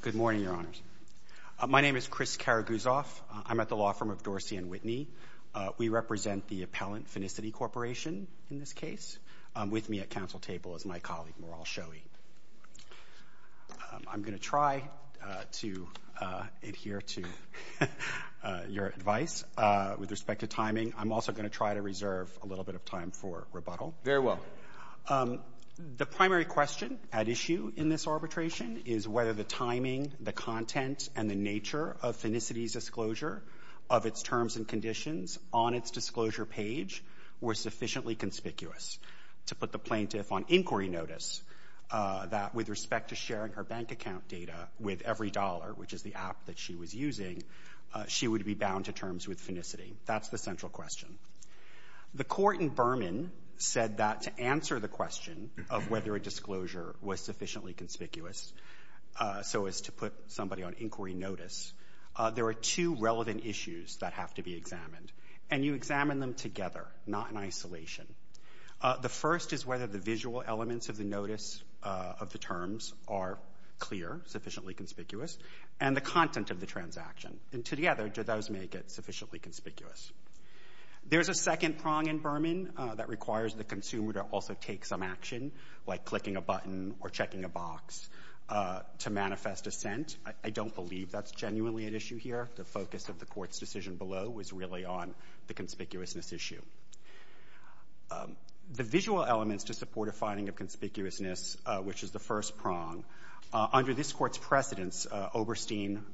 Good morning, Your Honors. My name is Chris Karaguzov. I'm at the law firm of Dorsey & Whitney. We represent the appellant, Finicity Corporation, in this case, with me at counsel table is my colleague, Moral Shoei. I'm going to try to adhere to your advice with respect to timing. I'm also going to try to reserve a little bit of time for rebuttal. Very well. The primary question at issue in this arbitration is whether the timing, the content, and the nature of Finicity's disclosure of its terms and conditions on its disclosure page were sufficiently conspicuous to put the plaintiff on inquiry notice that with respect to sharing her bank account data with every dollar, which is the app that she was using, she would be bound to terms with Finicity. That's the central question. The court in Berman said that to answer the question of whether a disclosure was sufficiently conspicuous so as to put somebody on inquiry notice, there are two relevant issues that have to be examined, and you examine them together, not in isolation. The first is whether the visual elements of the notice of the terms are clear, sufficiently conspicuous, and the content of the transaction. And together, do those make it sufficiently conspicuous? There's a second prong in Berman that requires the consumer to also take some action, like clicking a button or checking a box, to manifest assent. I don't believe that's genuinely at issue here. The focus of the Court's decision below was really on the conspicuousness issue. The visual elements to support a finding of conspicuousness, which is the first prong, under this Court's precedence, Oberstein,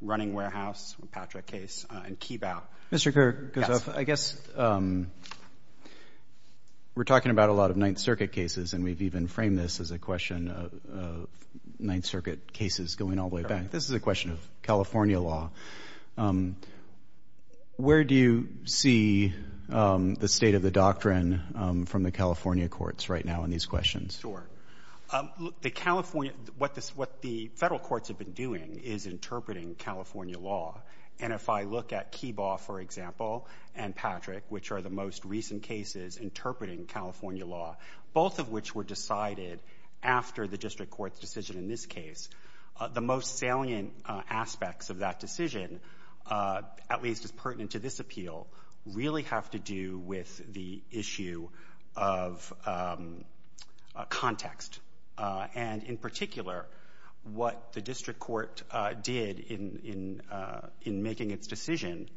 Running Warehouse, a Patrick case, and Keebau. Mr. Kershoff, I guess we're talking about a lot of Ninth Circuit cases, and we've even framed this as a question of Ninth Circuit cases going all the way back. This is a question of California law. Where do you see the state of the doctrine from the California courts right now in these questions? What the Federal courts have been doing is interpreting California law. And if I look at Keebau, for example, and Patrick, which are the most recent cases interpreting California law, both of which were decided after the district court's decision in this case, the most salient aspects of that decision, at least as pertinent to this appeal, really have to do with the issue of context. And in particular, what the district court did in making its decision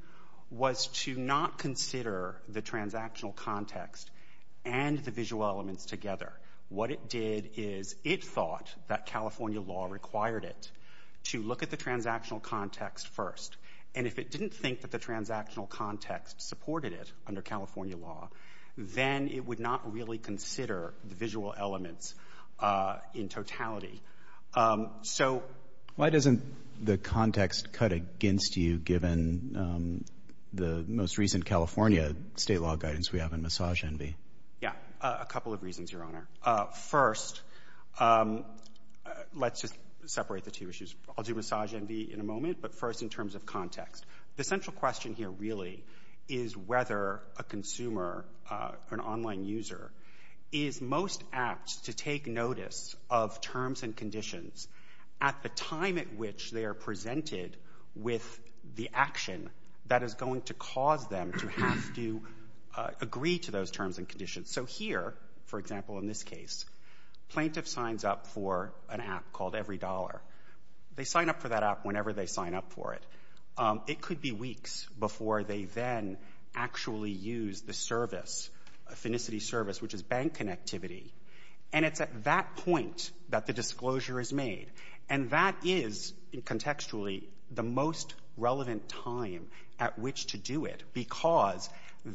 was to not consider the transactional context and the visual elements together. What it did is it thought that California law required it to look at the transactional context first. And if it didn't think that the transactional context supported it under California law, then it would not really consider the visual elements in totality. So why doesn't the context cut against you, given the most recent California state law guidance we have in Massage Envy? Yeah, a couple of reasons, Your Honor. First, let's just separate the two issues. I'll do Massage Envy in a moment, but first in terms of context. The central question here really is whether a consumer, an online user, is most apt to take notice of terms and conditions at the time at which they are presented with the action that is going to cause them to have to agree to those terms and conditions. So here, for example, in this case, plaintiff signs up for an app called EveryDollar. They sign up for that app whenever they sign up for it. It could be weeks before they then actually use the service, a phonicity service, which is bank connectivity. And it's at that point that the disclosure is made. And that is, contextually, the most relevant time at which to do it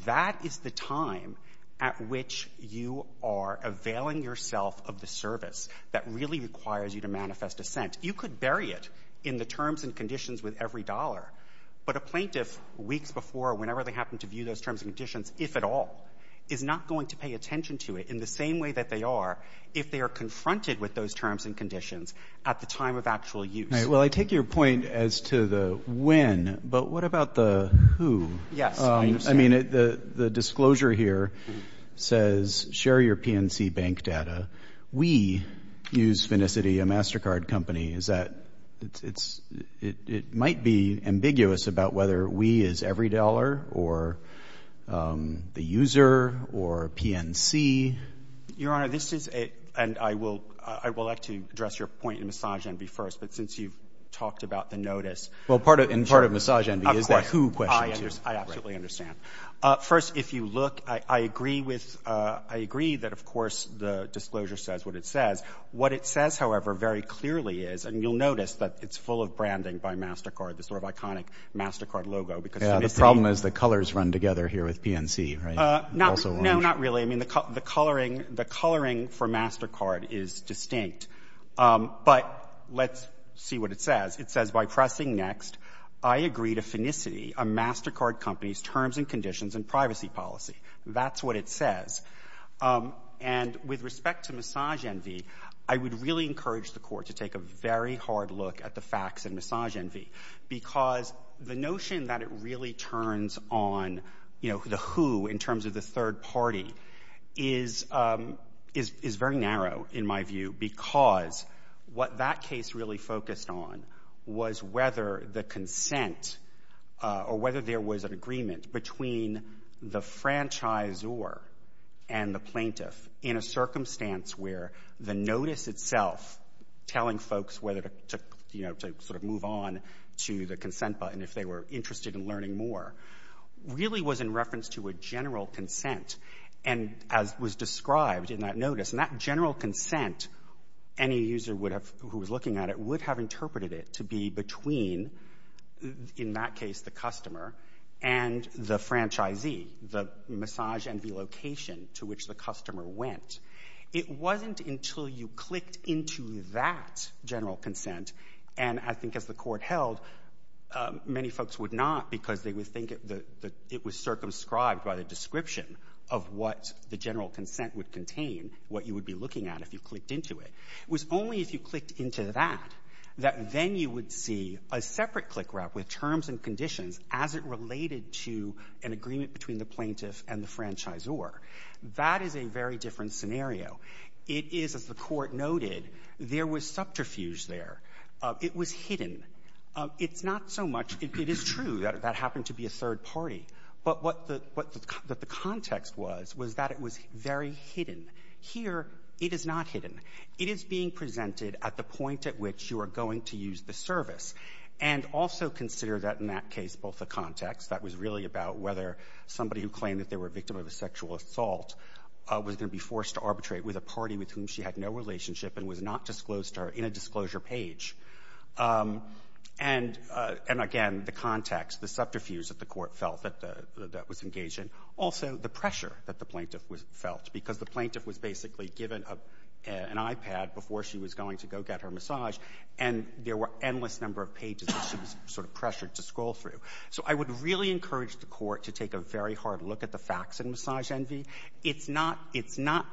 that is the time at which you are availing yourself of the service that really requires you to manifest assent. You could bury it in the terms and conditions with EveryDollar, but a plaintiff weeks before or whenever they happen to view those terms and conditions, if at all, is not going to pay attention to it in the same way that they are if they are confronted with those terms and conditions at the time of actual use. Well, I take your point as to the when, but what about the who? Yes. I mean, the disclosure here says share your PNC bank data. We use Phonicity, a MasterCard company. It might be ambiguous about whether we is EveryDollar or the user or PNC. Your Honor, this is a, and I will like to address your point in misogyny first, but since you've talked about the notice. Well, in part of misogyny is the who question. I absolutely understand. First, if you look, I agree that, of course, the disclosure says what it says. What it says, however, very clearly is, and you'll notice that it's full of branding by MasterCard, this sort of iconic MasterCard logo. The problem is the colors run together here with PNC, right? No, not really. I mean, the coloring for MasterCard is distinct, but let's see what it says. It says, by pressing next, I agree to Phonicity, a MasterCard company's terms and conditions and privacy policy. That's what it says. And with respect to misogyny, I would really encourage the Court to take a very hard look at the facts in misogyny, because the notion that it really turns on, you know, the who in terms of the third party is very narrow, in my view, because what that case really focused on was whether the consent or whether there was an agreement between the franchisor and the plaintiff in a circumstance where the notice itself telling folks whether to, you know, to sort of move on to the consent button if they were interested in learning more really was in reference to a general looking at it would have interpreted it to be between, in that case, the customer and the franchisee, the massage and the location to which the customer went. It wasn't until you clicked into that general consent, and I think as the Court held, many folks would not because they would think it was circumscribed by the description of what the general consent would contain, what you would be looking at if you clicked into it. It was only if you clicked into that that then you would see a separate click route with terms and conditions as it related to an agreement between the plaintiff and the franchisor. That is a very different scenario. It is, as the Court noted, there was subterfuge there. It was hidden. It's not so much — it is true that that happened to be a third party, but what the context was was that it was very hidden. Here, it is not hidden. It is being presented at the point at which you are going to use the service. And also consider that, in that case, both the context, that was really about whether somebody who claimed that they were a victim of a sexual assault was going to be forced to arbitrate with a party with whom she had no relationship and was not disclosed to her in a disclosure page. And again, the context, the subterfuge that the Court felt that the — that was engaged in. Also, the pressure that the plaintiff felt, because the plaintiff was basically given an iPad before she was going to go get her massage, and there were endless number of pages that she was sort of pressured to scroll through. So I would really encourage the Court to take a very hard look at the facts in Massage Envy. It's not — it's not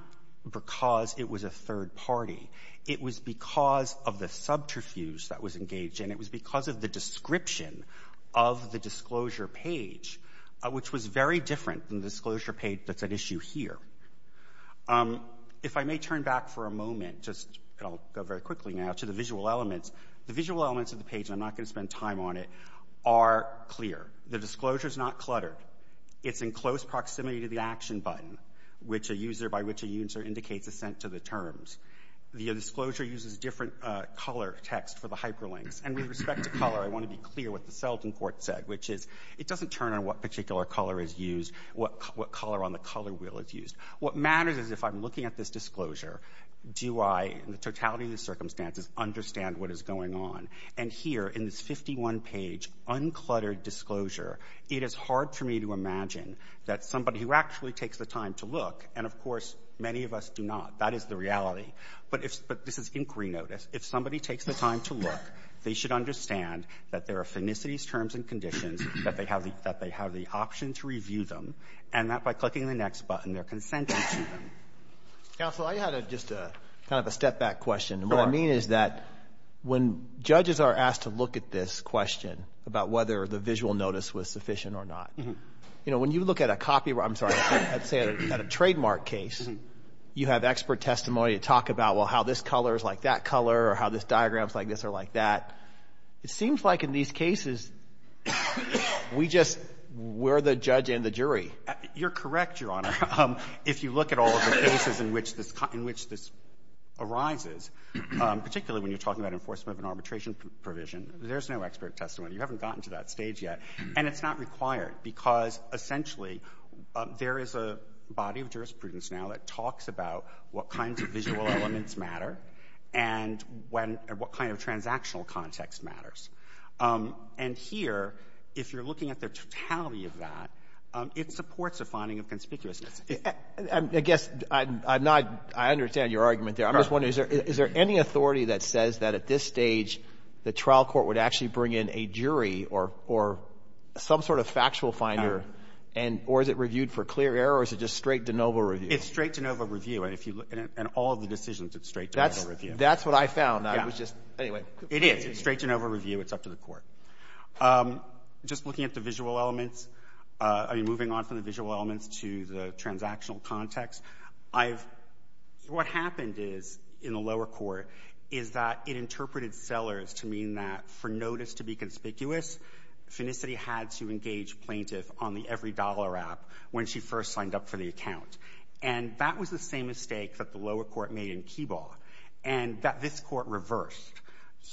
because it was a third party. It was because of the subterfuge that was engaged in it. It was because of the description of the disclosure page, which was very different than the disclosure page that's at issue here. If I may turn back for a moment, just — and I'll go very quickly now to the visual elements. The visual elements of the page, and I'm not going to spend time on it, are clear. The disclosure is not cluttered. It's in close proximity to the action button, which a user — by which a user indicates assent to the terms. The disclosure uses different color text for the hyperlinks. And with respect to color, I want to be clear what the Selden Court said, which is it doesn't turn on what particular color is used — what color on the color wheel is used. What matters is if I'm looking at this disclosure, do I, in the totality of the circumstances, understand what is going on? And here, in this 51-page, uncluttered disclosure, it is hard for me to imagine that somebody who actually takes the time to look — and, of course, many of us do not. That is the reality. But if — but this is inquiry notice. If somebody takes the time to look, they should understand that there are finicities, terms, and conditions, that they have the — that they have the option to review them, and that by clicking the next button, they're consenting to them. Counsel, I had a — just a kind of a step-back question. What I mean is that when judges are asked to look at this question about whether the visual notice was sufficient or not, you know, when you look at a copy — I'm sorry, let's say at a trademark case, you have expert testimony to talk about, well, how this color is like that color or how this diagram is like this or like that. It seems like in these cases, we just — we're the judge and the jury. You're correct, Your Honor. If you look at all of the cases in which this arises, particularly when you're talking about enforcement of an arbitration provision, there's no expert testimony. You haven't gotten to that stage yet. And it's not required because, essentially, there is a body of jurisprudence now that talks about what kinds of visual elements matter and when — what kind of transactional context matters. And here, if you're looking at the totality of that, it supports a finding of conspicuousness. I guess I'm not — I understand your argument there. Of course. I'm just wondering, is there any authority that says that at this stage the trial court would actually bring in a jury or some sort of factual finder and — or is it reviewed for clear error or is it just straight de novo review? It's straight de novo review. And if you — and all of the decisions, it's straight de novo review. That's what I found. Yeah. I was just — anyway. It is. It's straight de novo review. It's up to the court. Just looking at the visual elements, I mean, moving on from the visual elements to the transactional context, I've — what happened is, in the lower court, is that it interpreted sellers to mean that for notice to be conspicuous, Phenicity had to engage plaintiff on the EveryDollar app when she first signed up for the account. And that was the same mistake that the lower court made in Keebaugh and that this court reversed.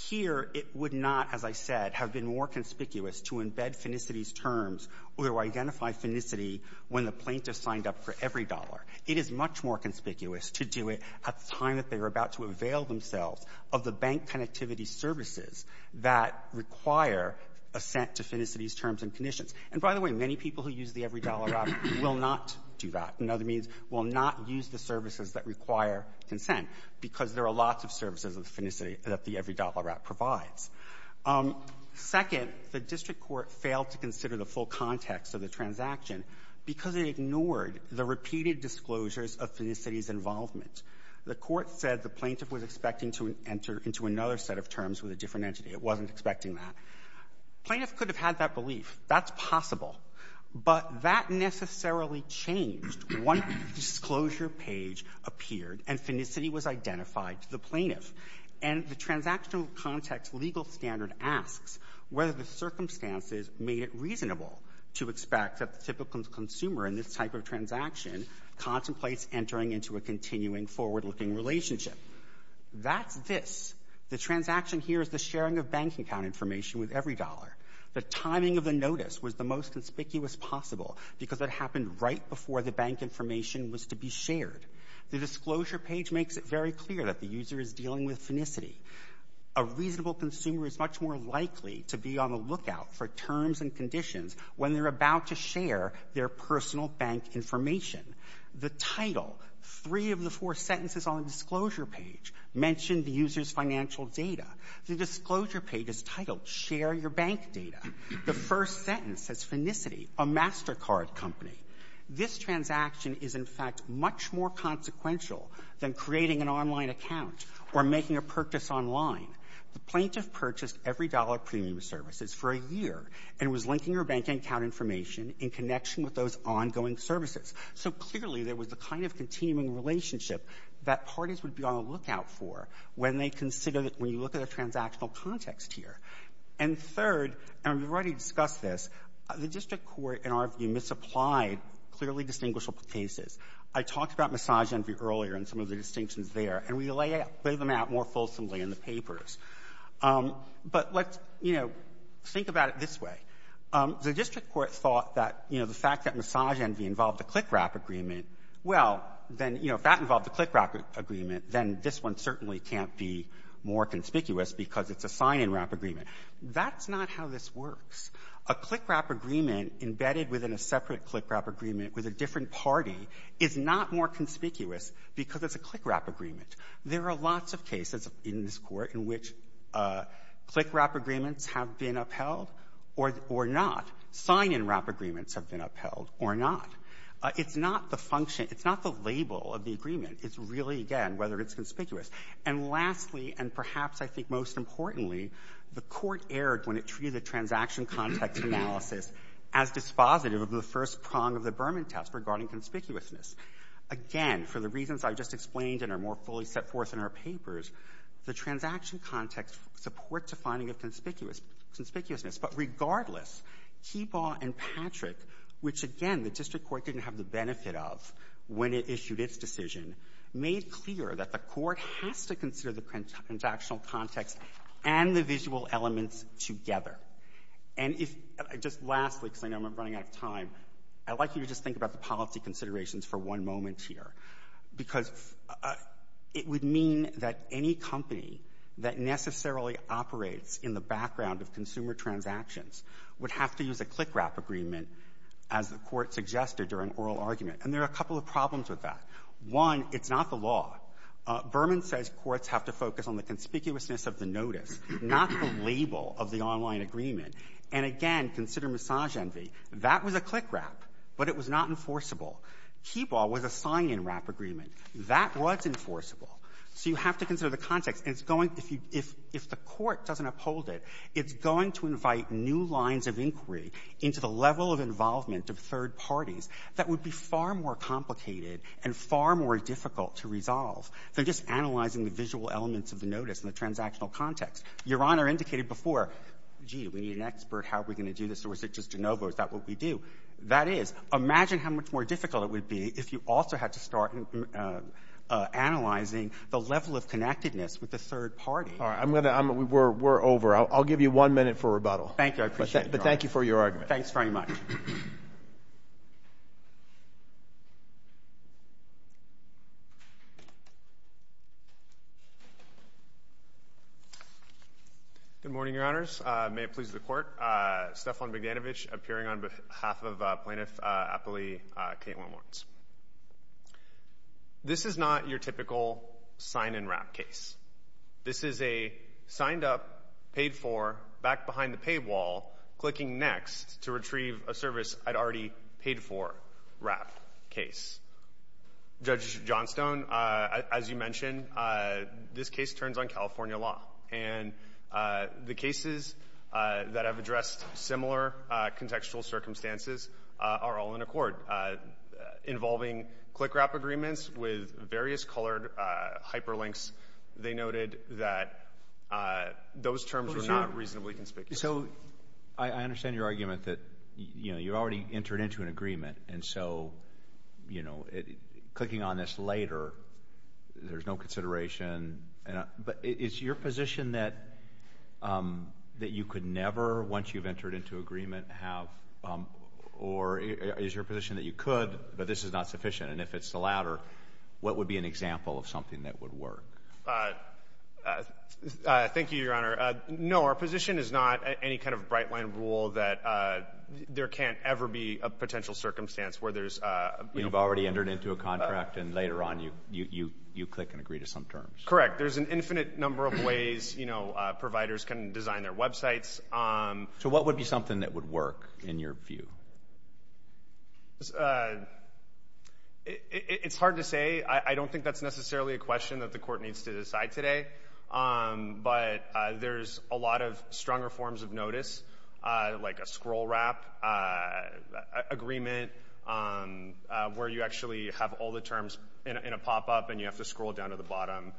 Here, it would not, as I said, have been more conspicuous to embed Phenicity's terms or to identify Phenicity when the plaintiff signed up for EveryDollar. It is much more conspicuous to do it at the time that they were about to avail themselves of the bank connectivity services that require assent to Phenicity's terms and conditions. And by the way, many people who use the EveryDollar app will not do that. In other means, will not use the services that require consent, because there are lots of services with Phenicity that the EveryDollar app provides. Second, the district court failed to consider the full context of the transaction because it ignored the repeated disclosures of Phenicity's involvement. The court said the plaintiff was expecting to enter into another set of terms with a different entity. It wasn't expecting that. Plaintiff could have had that belief. That's possible. But that necessarily changed once the disclosure page appeared and Phenicity was identified to the plaintiff. And the transactional context legal standard asks whether the circumstances made it reasonable to expect that the typical consumer in this type of transaction contemplates entering into a continuing forward-looking relationship. That's this. The transaction here is the timing of the notice was the most conspicuous possible because it happened right before the bank information was to be shared. The disclosure page makes it very clear that the user is dealing with Phenicity. A reasonable consumer is much more likely to be on the lookout for terms and conditions when they're about to share their personal bank information. The title, three of the four sentences on the disclosure page mention the user's financial data. The disclosure page is titled Share Your Bank Data. The first sentence says Phenicity, a MasterCard company. This transaction is, in fact, much more consequential than creating an online account or making a purchase online. The plaintiff purchased every dollar premium services for a year and was linking her bank account information in connection with those ongoing relationship that parties would be on the lookout for when they consider that when you look at the transactional context here. And third, and we've already discussed this, the district court, in our view, misapplied clearly distinguishable cases. I talked about misogyny earlier and some of the distinctions there, and we lay them out more fulsomely in the papers. But let's, you know, think about it this way. The district court thought that, you know, the fact that misogyny involved a click-wrap agreement, well, then, you know, if that involved a click-wrap agreement, then this one certainly can't be more conspicuous because it's a sign-in-wrap agreement. That's not how this works. A click-wrap agreement embedded within a separate click-wrap agreement with a different party is not more conspicuous because it's a click-wrap agreement. There are lots of cases in this Court in which click-wrap agreements have been upheld or not. Sign-in-wrap agreements have been upheld or not. It's not the function. It's not the label of the agreement. It's really, again, whether it's conspicuous. And lastly, and perhaps I think most importantly, the Court erred when it treated the transaction context analysis as dispositive of the first prong of the Berman test regarding conspicuousness. Again, for the reasons I just explained and are more fully set forth in our papers, the transaction context supports a finding of conspicuousness. But regardless, Keebaugh and Patrick, which, again, the district court didn't have the benefit of when it issued its decision, made clear that the court has to consider the transactional context and the visual elements together. And if — just lastly, because I know I'm running out of time, I'd like you to just think about the policy considerations for one moment here, because it would mean that any company that necessarily operates in the background of consumer transactions would have to use a click-wrap agreement, as the Court suggested during oral argument. And there are a couple of problems with that. One, it's not the law. Berman says courts have to focus on the conspicuousness of the notice, not the label of the online Keebaugh was a sign-in wrap agreement. That was enforceable. So you have to consider the context. And it's going — if you — if the Court doesn't uphold it, it's going to invite new lines of inquiry into the level of involvement of third parties that would be far more complicated and far more difficult to resolve than just analyzing the visual elements of the notice and the transactional context. Your Honor indicated before, gee, we need an expert. How are we going to do this? Or is it just de novo? Is that what we do? That is. Imagine how much more difficult it would be if you also had to start analyzing the level of connectedness with a third party. All right. I'm going to — we're over. I'll give you one minute for rebuttal. Thank you. I appreciate it, Your Honor. But thank you for your argument. Thanks very much. Good morning, Your Honors. May it please the Court. I'm Judge Stephan Bigdanovich, appearing on behalf of Plaintiff Appley, Kate Wilmots. This is not your typical sign-and-wrap case. This is a signed-up, paid-for, back-behind-the-paywall, clicking-next-to-retrieve-a-service-I'd-already-paid-for wrap case. Judge Johnstone, as you mentioned, this case turns on California law. And the cases that have addressed similar contextual circumstances are all in accord, involving click-wrap agreements with various colored hyperlinks. They noted that those terms were not reasonably conspicuous. So I understand your argument that, you know, you already entered into an agreement. And so, you know, clicking on this later, there's no consideration. But is your position that you could never, once you've entered into agreement, have – or is your position that you could, but this is not sufficient? And if it's the latter, what would be an example of something that would work? Thank you, Your Honor. No, our position is not any kind of bright-line rule that there can't ever be a potential circumstance where there's – You've already entered into a contract, and later on you click and agree to some terms. Correct. There's an infinite number of ways, you know, providers can design their websites. So what would be something that would work, in your view? It's hard to say. I don't think that's necessarily a question that the Court needs to decide today. But there's a lot of stronger forms of notice, like a scroll-wrap agreement, where you actually have all the terms in a pop-up and you have to scroll down to the bottom,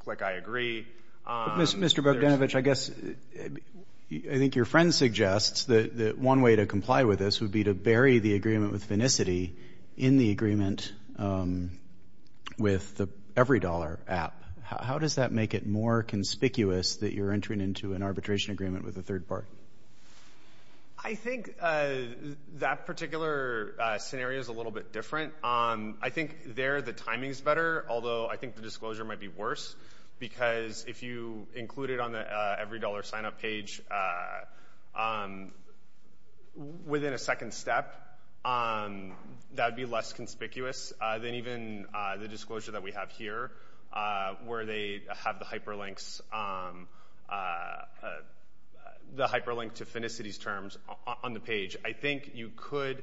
click I agree. Mr. Bogdanovich, I guess – I think your friend suggests that one way to comply with this would be to bury the agreement with Vinnicity in the agreement with the EveryDollar app. How does that make it more conspicuous that you're entering into an arbitration agreement with a third party? I think that particular scenario is a little bit different. I think there the timing is better, although I think the disclosure might be worse, because if you include it on the EveryDollar sign-up page within a second step, that would be less conspicuous than even the disclosure that we have here, where they have the hyperlink to Vinnicity's terms on the page. I think you could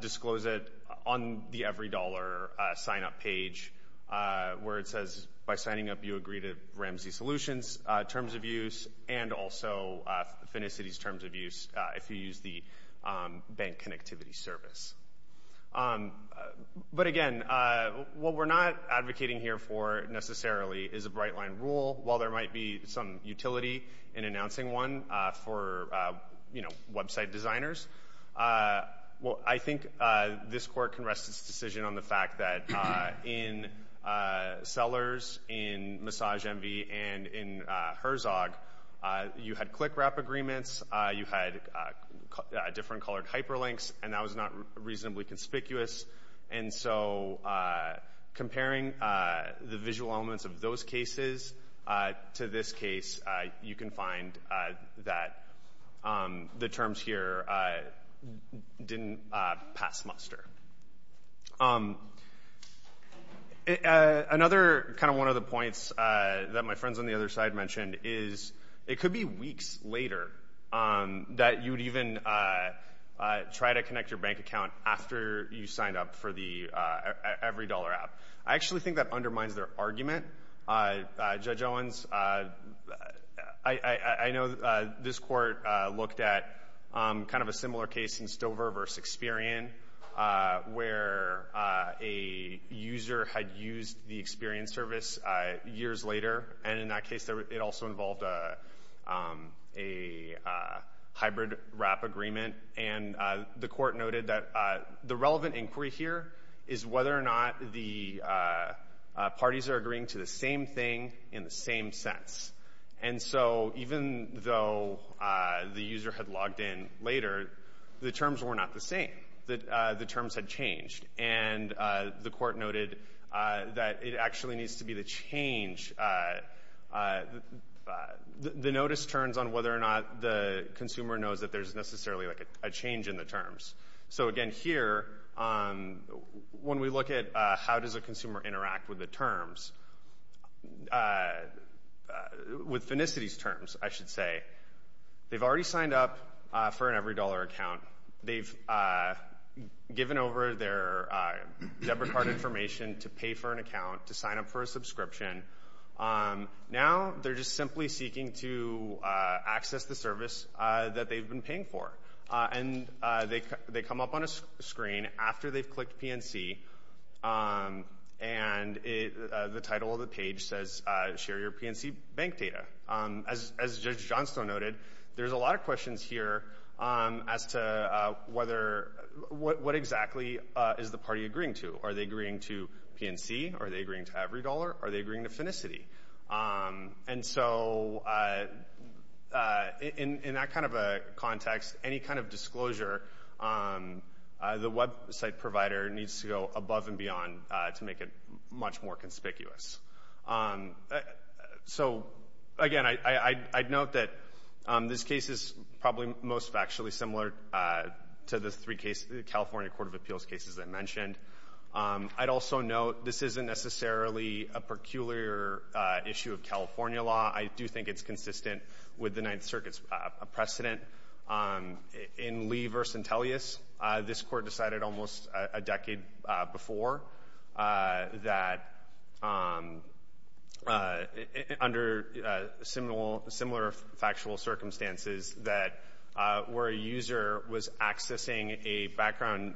disclose it on the EveryDollar sign-up page, where it says, by signing up, you agree to Ramsey Solutions terms of use and also Vinnicity's terms of use if you use the bank connectivity service. But again, what we're not advocating here for necessarily is a bright-line rule, while there might be some utility in announcing one for website designers. I think this court can rest its decision on the fact that in Sellers, in MassageMV and in Herzog, you had click-wrap agreements, you had different colored hyperlinks, and that was not reasonably conspicuous. And so comparing the visual elements of those cases to this case, you can find that the terms here didn't pass muster. Another kind of one of the points that my friends on the other side mentioned is it could be weeks later that you would even try to connect your bank account after you signed up for the EveryDollar app. I actually think that undermines their argument. Judge Owens, I know this court looked at kind of a similar case in Stover v. Experian, where a user had used the Experian service years later. And in that case, it also involved a hybrid wrap agreement. And the court noted that the relevant inquiry here is whether or not the parties are agreeing to the same thing in the same sense. And so even though the user had logged in later, the terms were not the same. The terms had changed. And the court noted that it actually needs to be the change. The notice turns on whether or not the consumer knows that there's necessarily a change in the terms. So again, here, when we look at how does a consumer interact with the terms, with Finicity's terms, I should say, they've already signed up for an EveryDollar account. They've given over their debit card information to pay for an account, to sign up for a subscription. Now they're just simply seeking to access the service that they've been paying for. And they come up on a screen after they've clicked PNC, and the title of the page says, Share Your PNC Bank Data. As Judge Johnstone noted, there's a lot of questions here as to what exactly is the party agreeing to. Are they agreeing to PNC? Are they agreeing to EveryDollar? Are they agreeing to Finicity? And so in that kind of a context, any kind of disclosure, the website provider needs to go above and beyond to make it much more conspicuous. So again, I'd note that this case is probably most factually similar to the three cases, the California Court of Appeals cases I mentioned. I'd also note this isn't necessarily a peculiar issue of California law. I do think it's consistent with the Ninth Circuit's precedent. In Lee v. Tellius, this court decided almost a decade before that under similar factual circumstances that where a user was accessing a background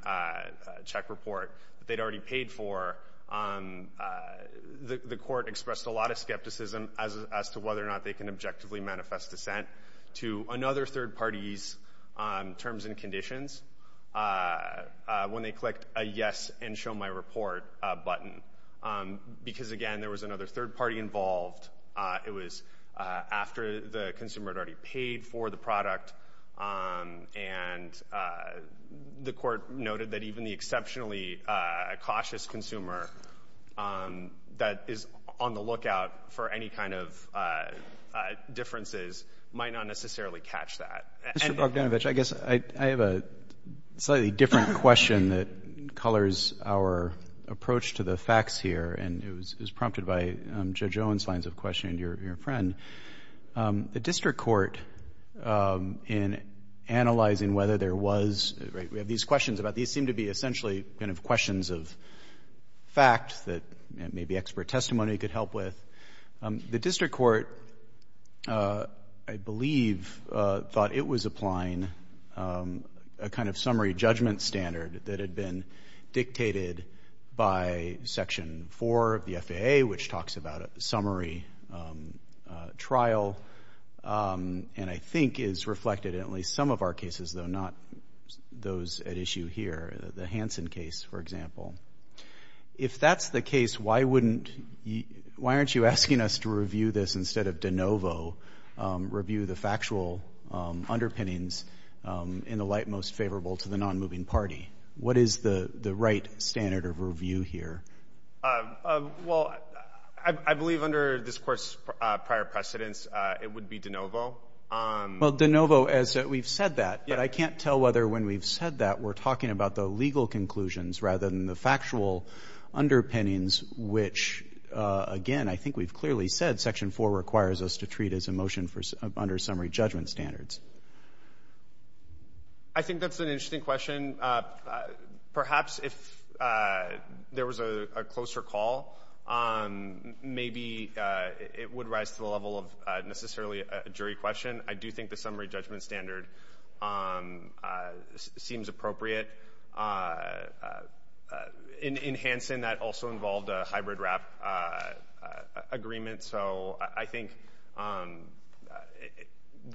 check report that they'd already paid for, the court expressed a lot of skepticism as to whether or not they can objectively manifest dissent to another third party's terms and conditions. When they clicked a yes and show my report button, because again there was another third party involved. It was after the consumer had already paid for the product and the court noted that even the exceptionally cautious consumer that is on the lookout for any kind of differences might not necessarily catch that. Mr. Bogdanovich, I guess I have a slightly different question that colors our approach to the facts here and it was prompted by Judge Owen's lines of questioning and your friend. The district court in analyzing whether there was, we have these questions about these seem to be essentially kind of questions of fact that maybe expert testimony could help with. The district court, I believe, thought it was applying a kind of summary judgment standard that had been dictated by Section 4 of the FAA, which talks about a summary trial and I think is reflected in at least some of our cases though not those at issue here. The Hansen case, for example. If that's the case, why aren't you asking us to review this instead of de novo, review the factual underpinnings in the light most favorable to the non-moving party? What is the right standard of review here? Well, I believe under this court's prior precedence, it would be de novo. Well, de novo as we've said that, but I can't tell whether when we've said that we're talking about the legal conclusions rather than the factual underpinnings, which again I think we've clearly said Section 4 requires us to treat as a motion under summary judgment standards. I think that's an interesting question. Perhaps if there was a closer call, maybe it would rise to the level of necessarily a jury question. I do think the summary judgment standard seems appropriate. In Hansen, that also involved a hybrid wrap agreement, so I think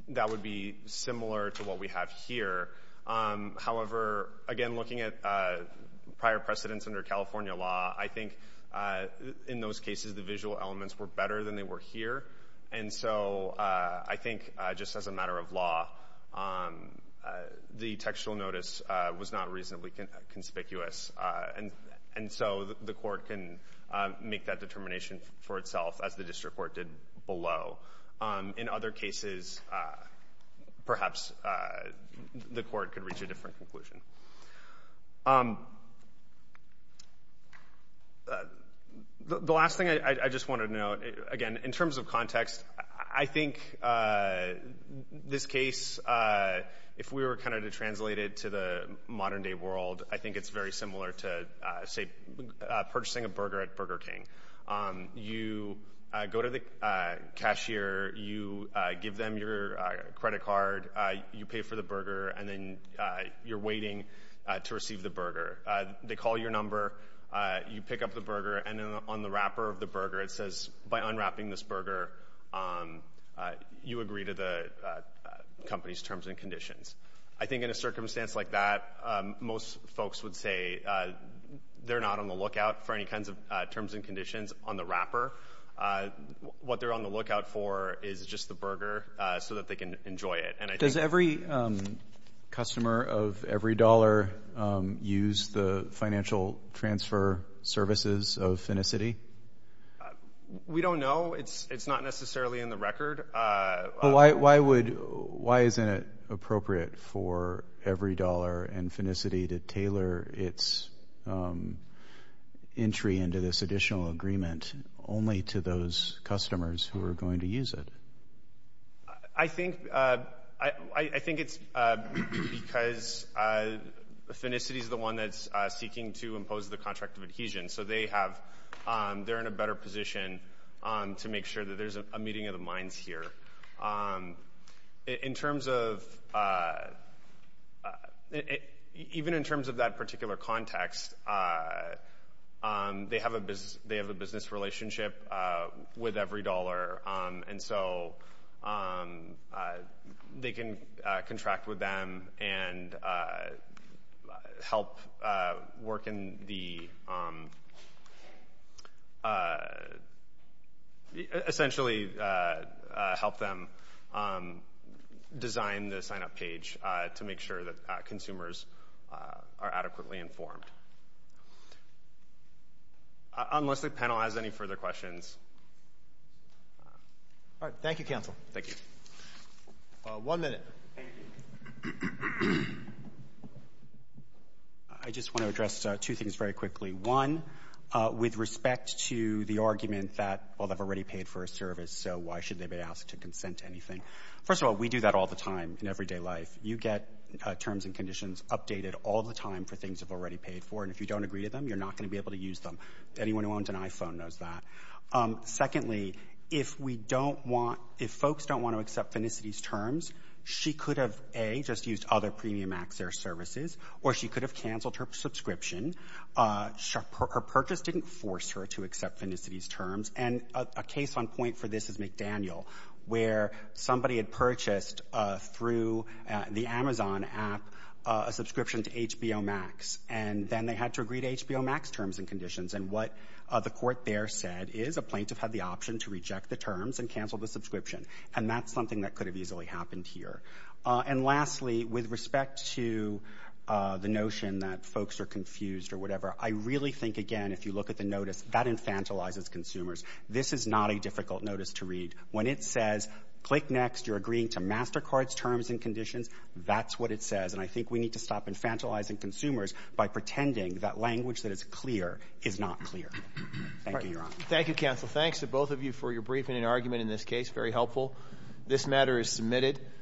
that would be similar to what we have here. However, again, looking at prior precedence under California law, I think in those cases the visual elements were better than they were here, and so I think just as a matter of law, the textual notice was not reasonably conspicuous, and so the court can make that determination for itself as the district court did below. In other cases, perhaps the court could reach a different conclusion. The last thing I just wanted to note, again, in terms of context, I think this case, if we were to translate it to the modern-day world, I think it's very similar to, say, purchasing a burger at Burger King. You go to the cashier, you give them your credit card, you pay for the burger, and then you're waiting to receive the burger. They call your number, you pick up the burger, and on the wrapper of the burger it says, by unwrapping this burger, you agree to the company's terms and conditions. I think in a circumstance like that, most folks would say they're not on the lookout for any kinds of terms and conditions on the wrapper. What they're on the lookout for is just the burger so that they can enjoy it, and I think... Does every customer of every dollar use the financial transfer services of Finicity? We don't know. It's not necessarily in the record. But why would... Why isn't it appropriate for every dollar and Finicity to tailor its entry into this additional agreement only to those customers who are going to use it? I think... I think it's because Finicity's the one that's seeking to impose the contract of adhesion, so they have... They're in a better position to make sure that there's a meeting of the minds here. In terms of... Even in terms of that particular context, they have a business relationship with every dollar, and so they can contract with them and help work in the... Essentially help them design the sign-up page to make sure that consumers are adequately informed. Unless the panel has any further questions... All right, thank you, counsel. Thank you. One minute. Thank you. I just want to address two things very quickly. One, with respect to the argument that, well, they've already paid for a service, so why should they be asked to consent to anything? First of all, we do that all the time in everyday life. You get terms and conditions updated all the time for things you've already paid for, and if you don't agree to them, you're not going to be able to use them. Anyone who owns an iPhone knows that. Secondly, if we don't want... If folks don't want to accept Finicity's terms, she could have, A, just used other premium access services, or she could have canceled her subscription. Her purchase didn't force her to accept Finicity's terms, and a case on point for this is McDaniel, where somebody had purchased, through the Amazon app, a subscription to HBO Max, and then they had to agree to HBO Max terms and conditions, and what the court there said is a plaintiff had the option to reject the terms and cancel the subscription, and that's something that could have easily happened here. And lastly, with respect to the notion that folks are confused or whatever, I really think, again, if you look at the notice, that infantilizes consumers. This is not a difficult notice to read. When it says, click next, you're agreeing to MasterCard's terms and conditions, that's what it says, and I think we need to stop infantilizing consumers by pretending that language that is clear is not clear. Thank you, Your Honor. Thank you, counsel. Thanks to both of you for your briefing and argument in this case, very helpful. This matter is submitted.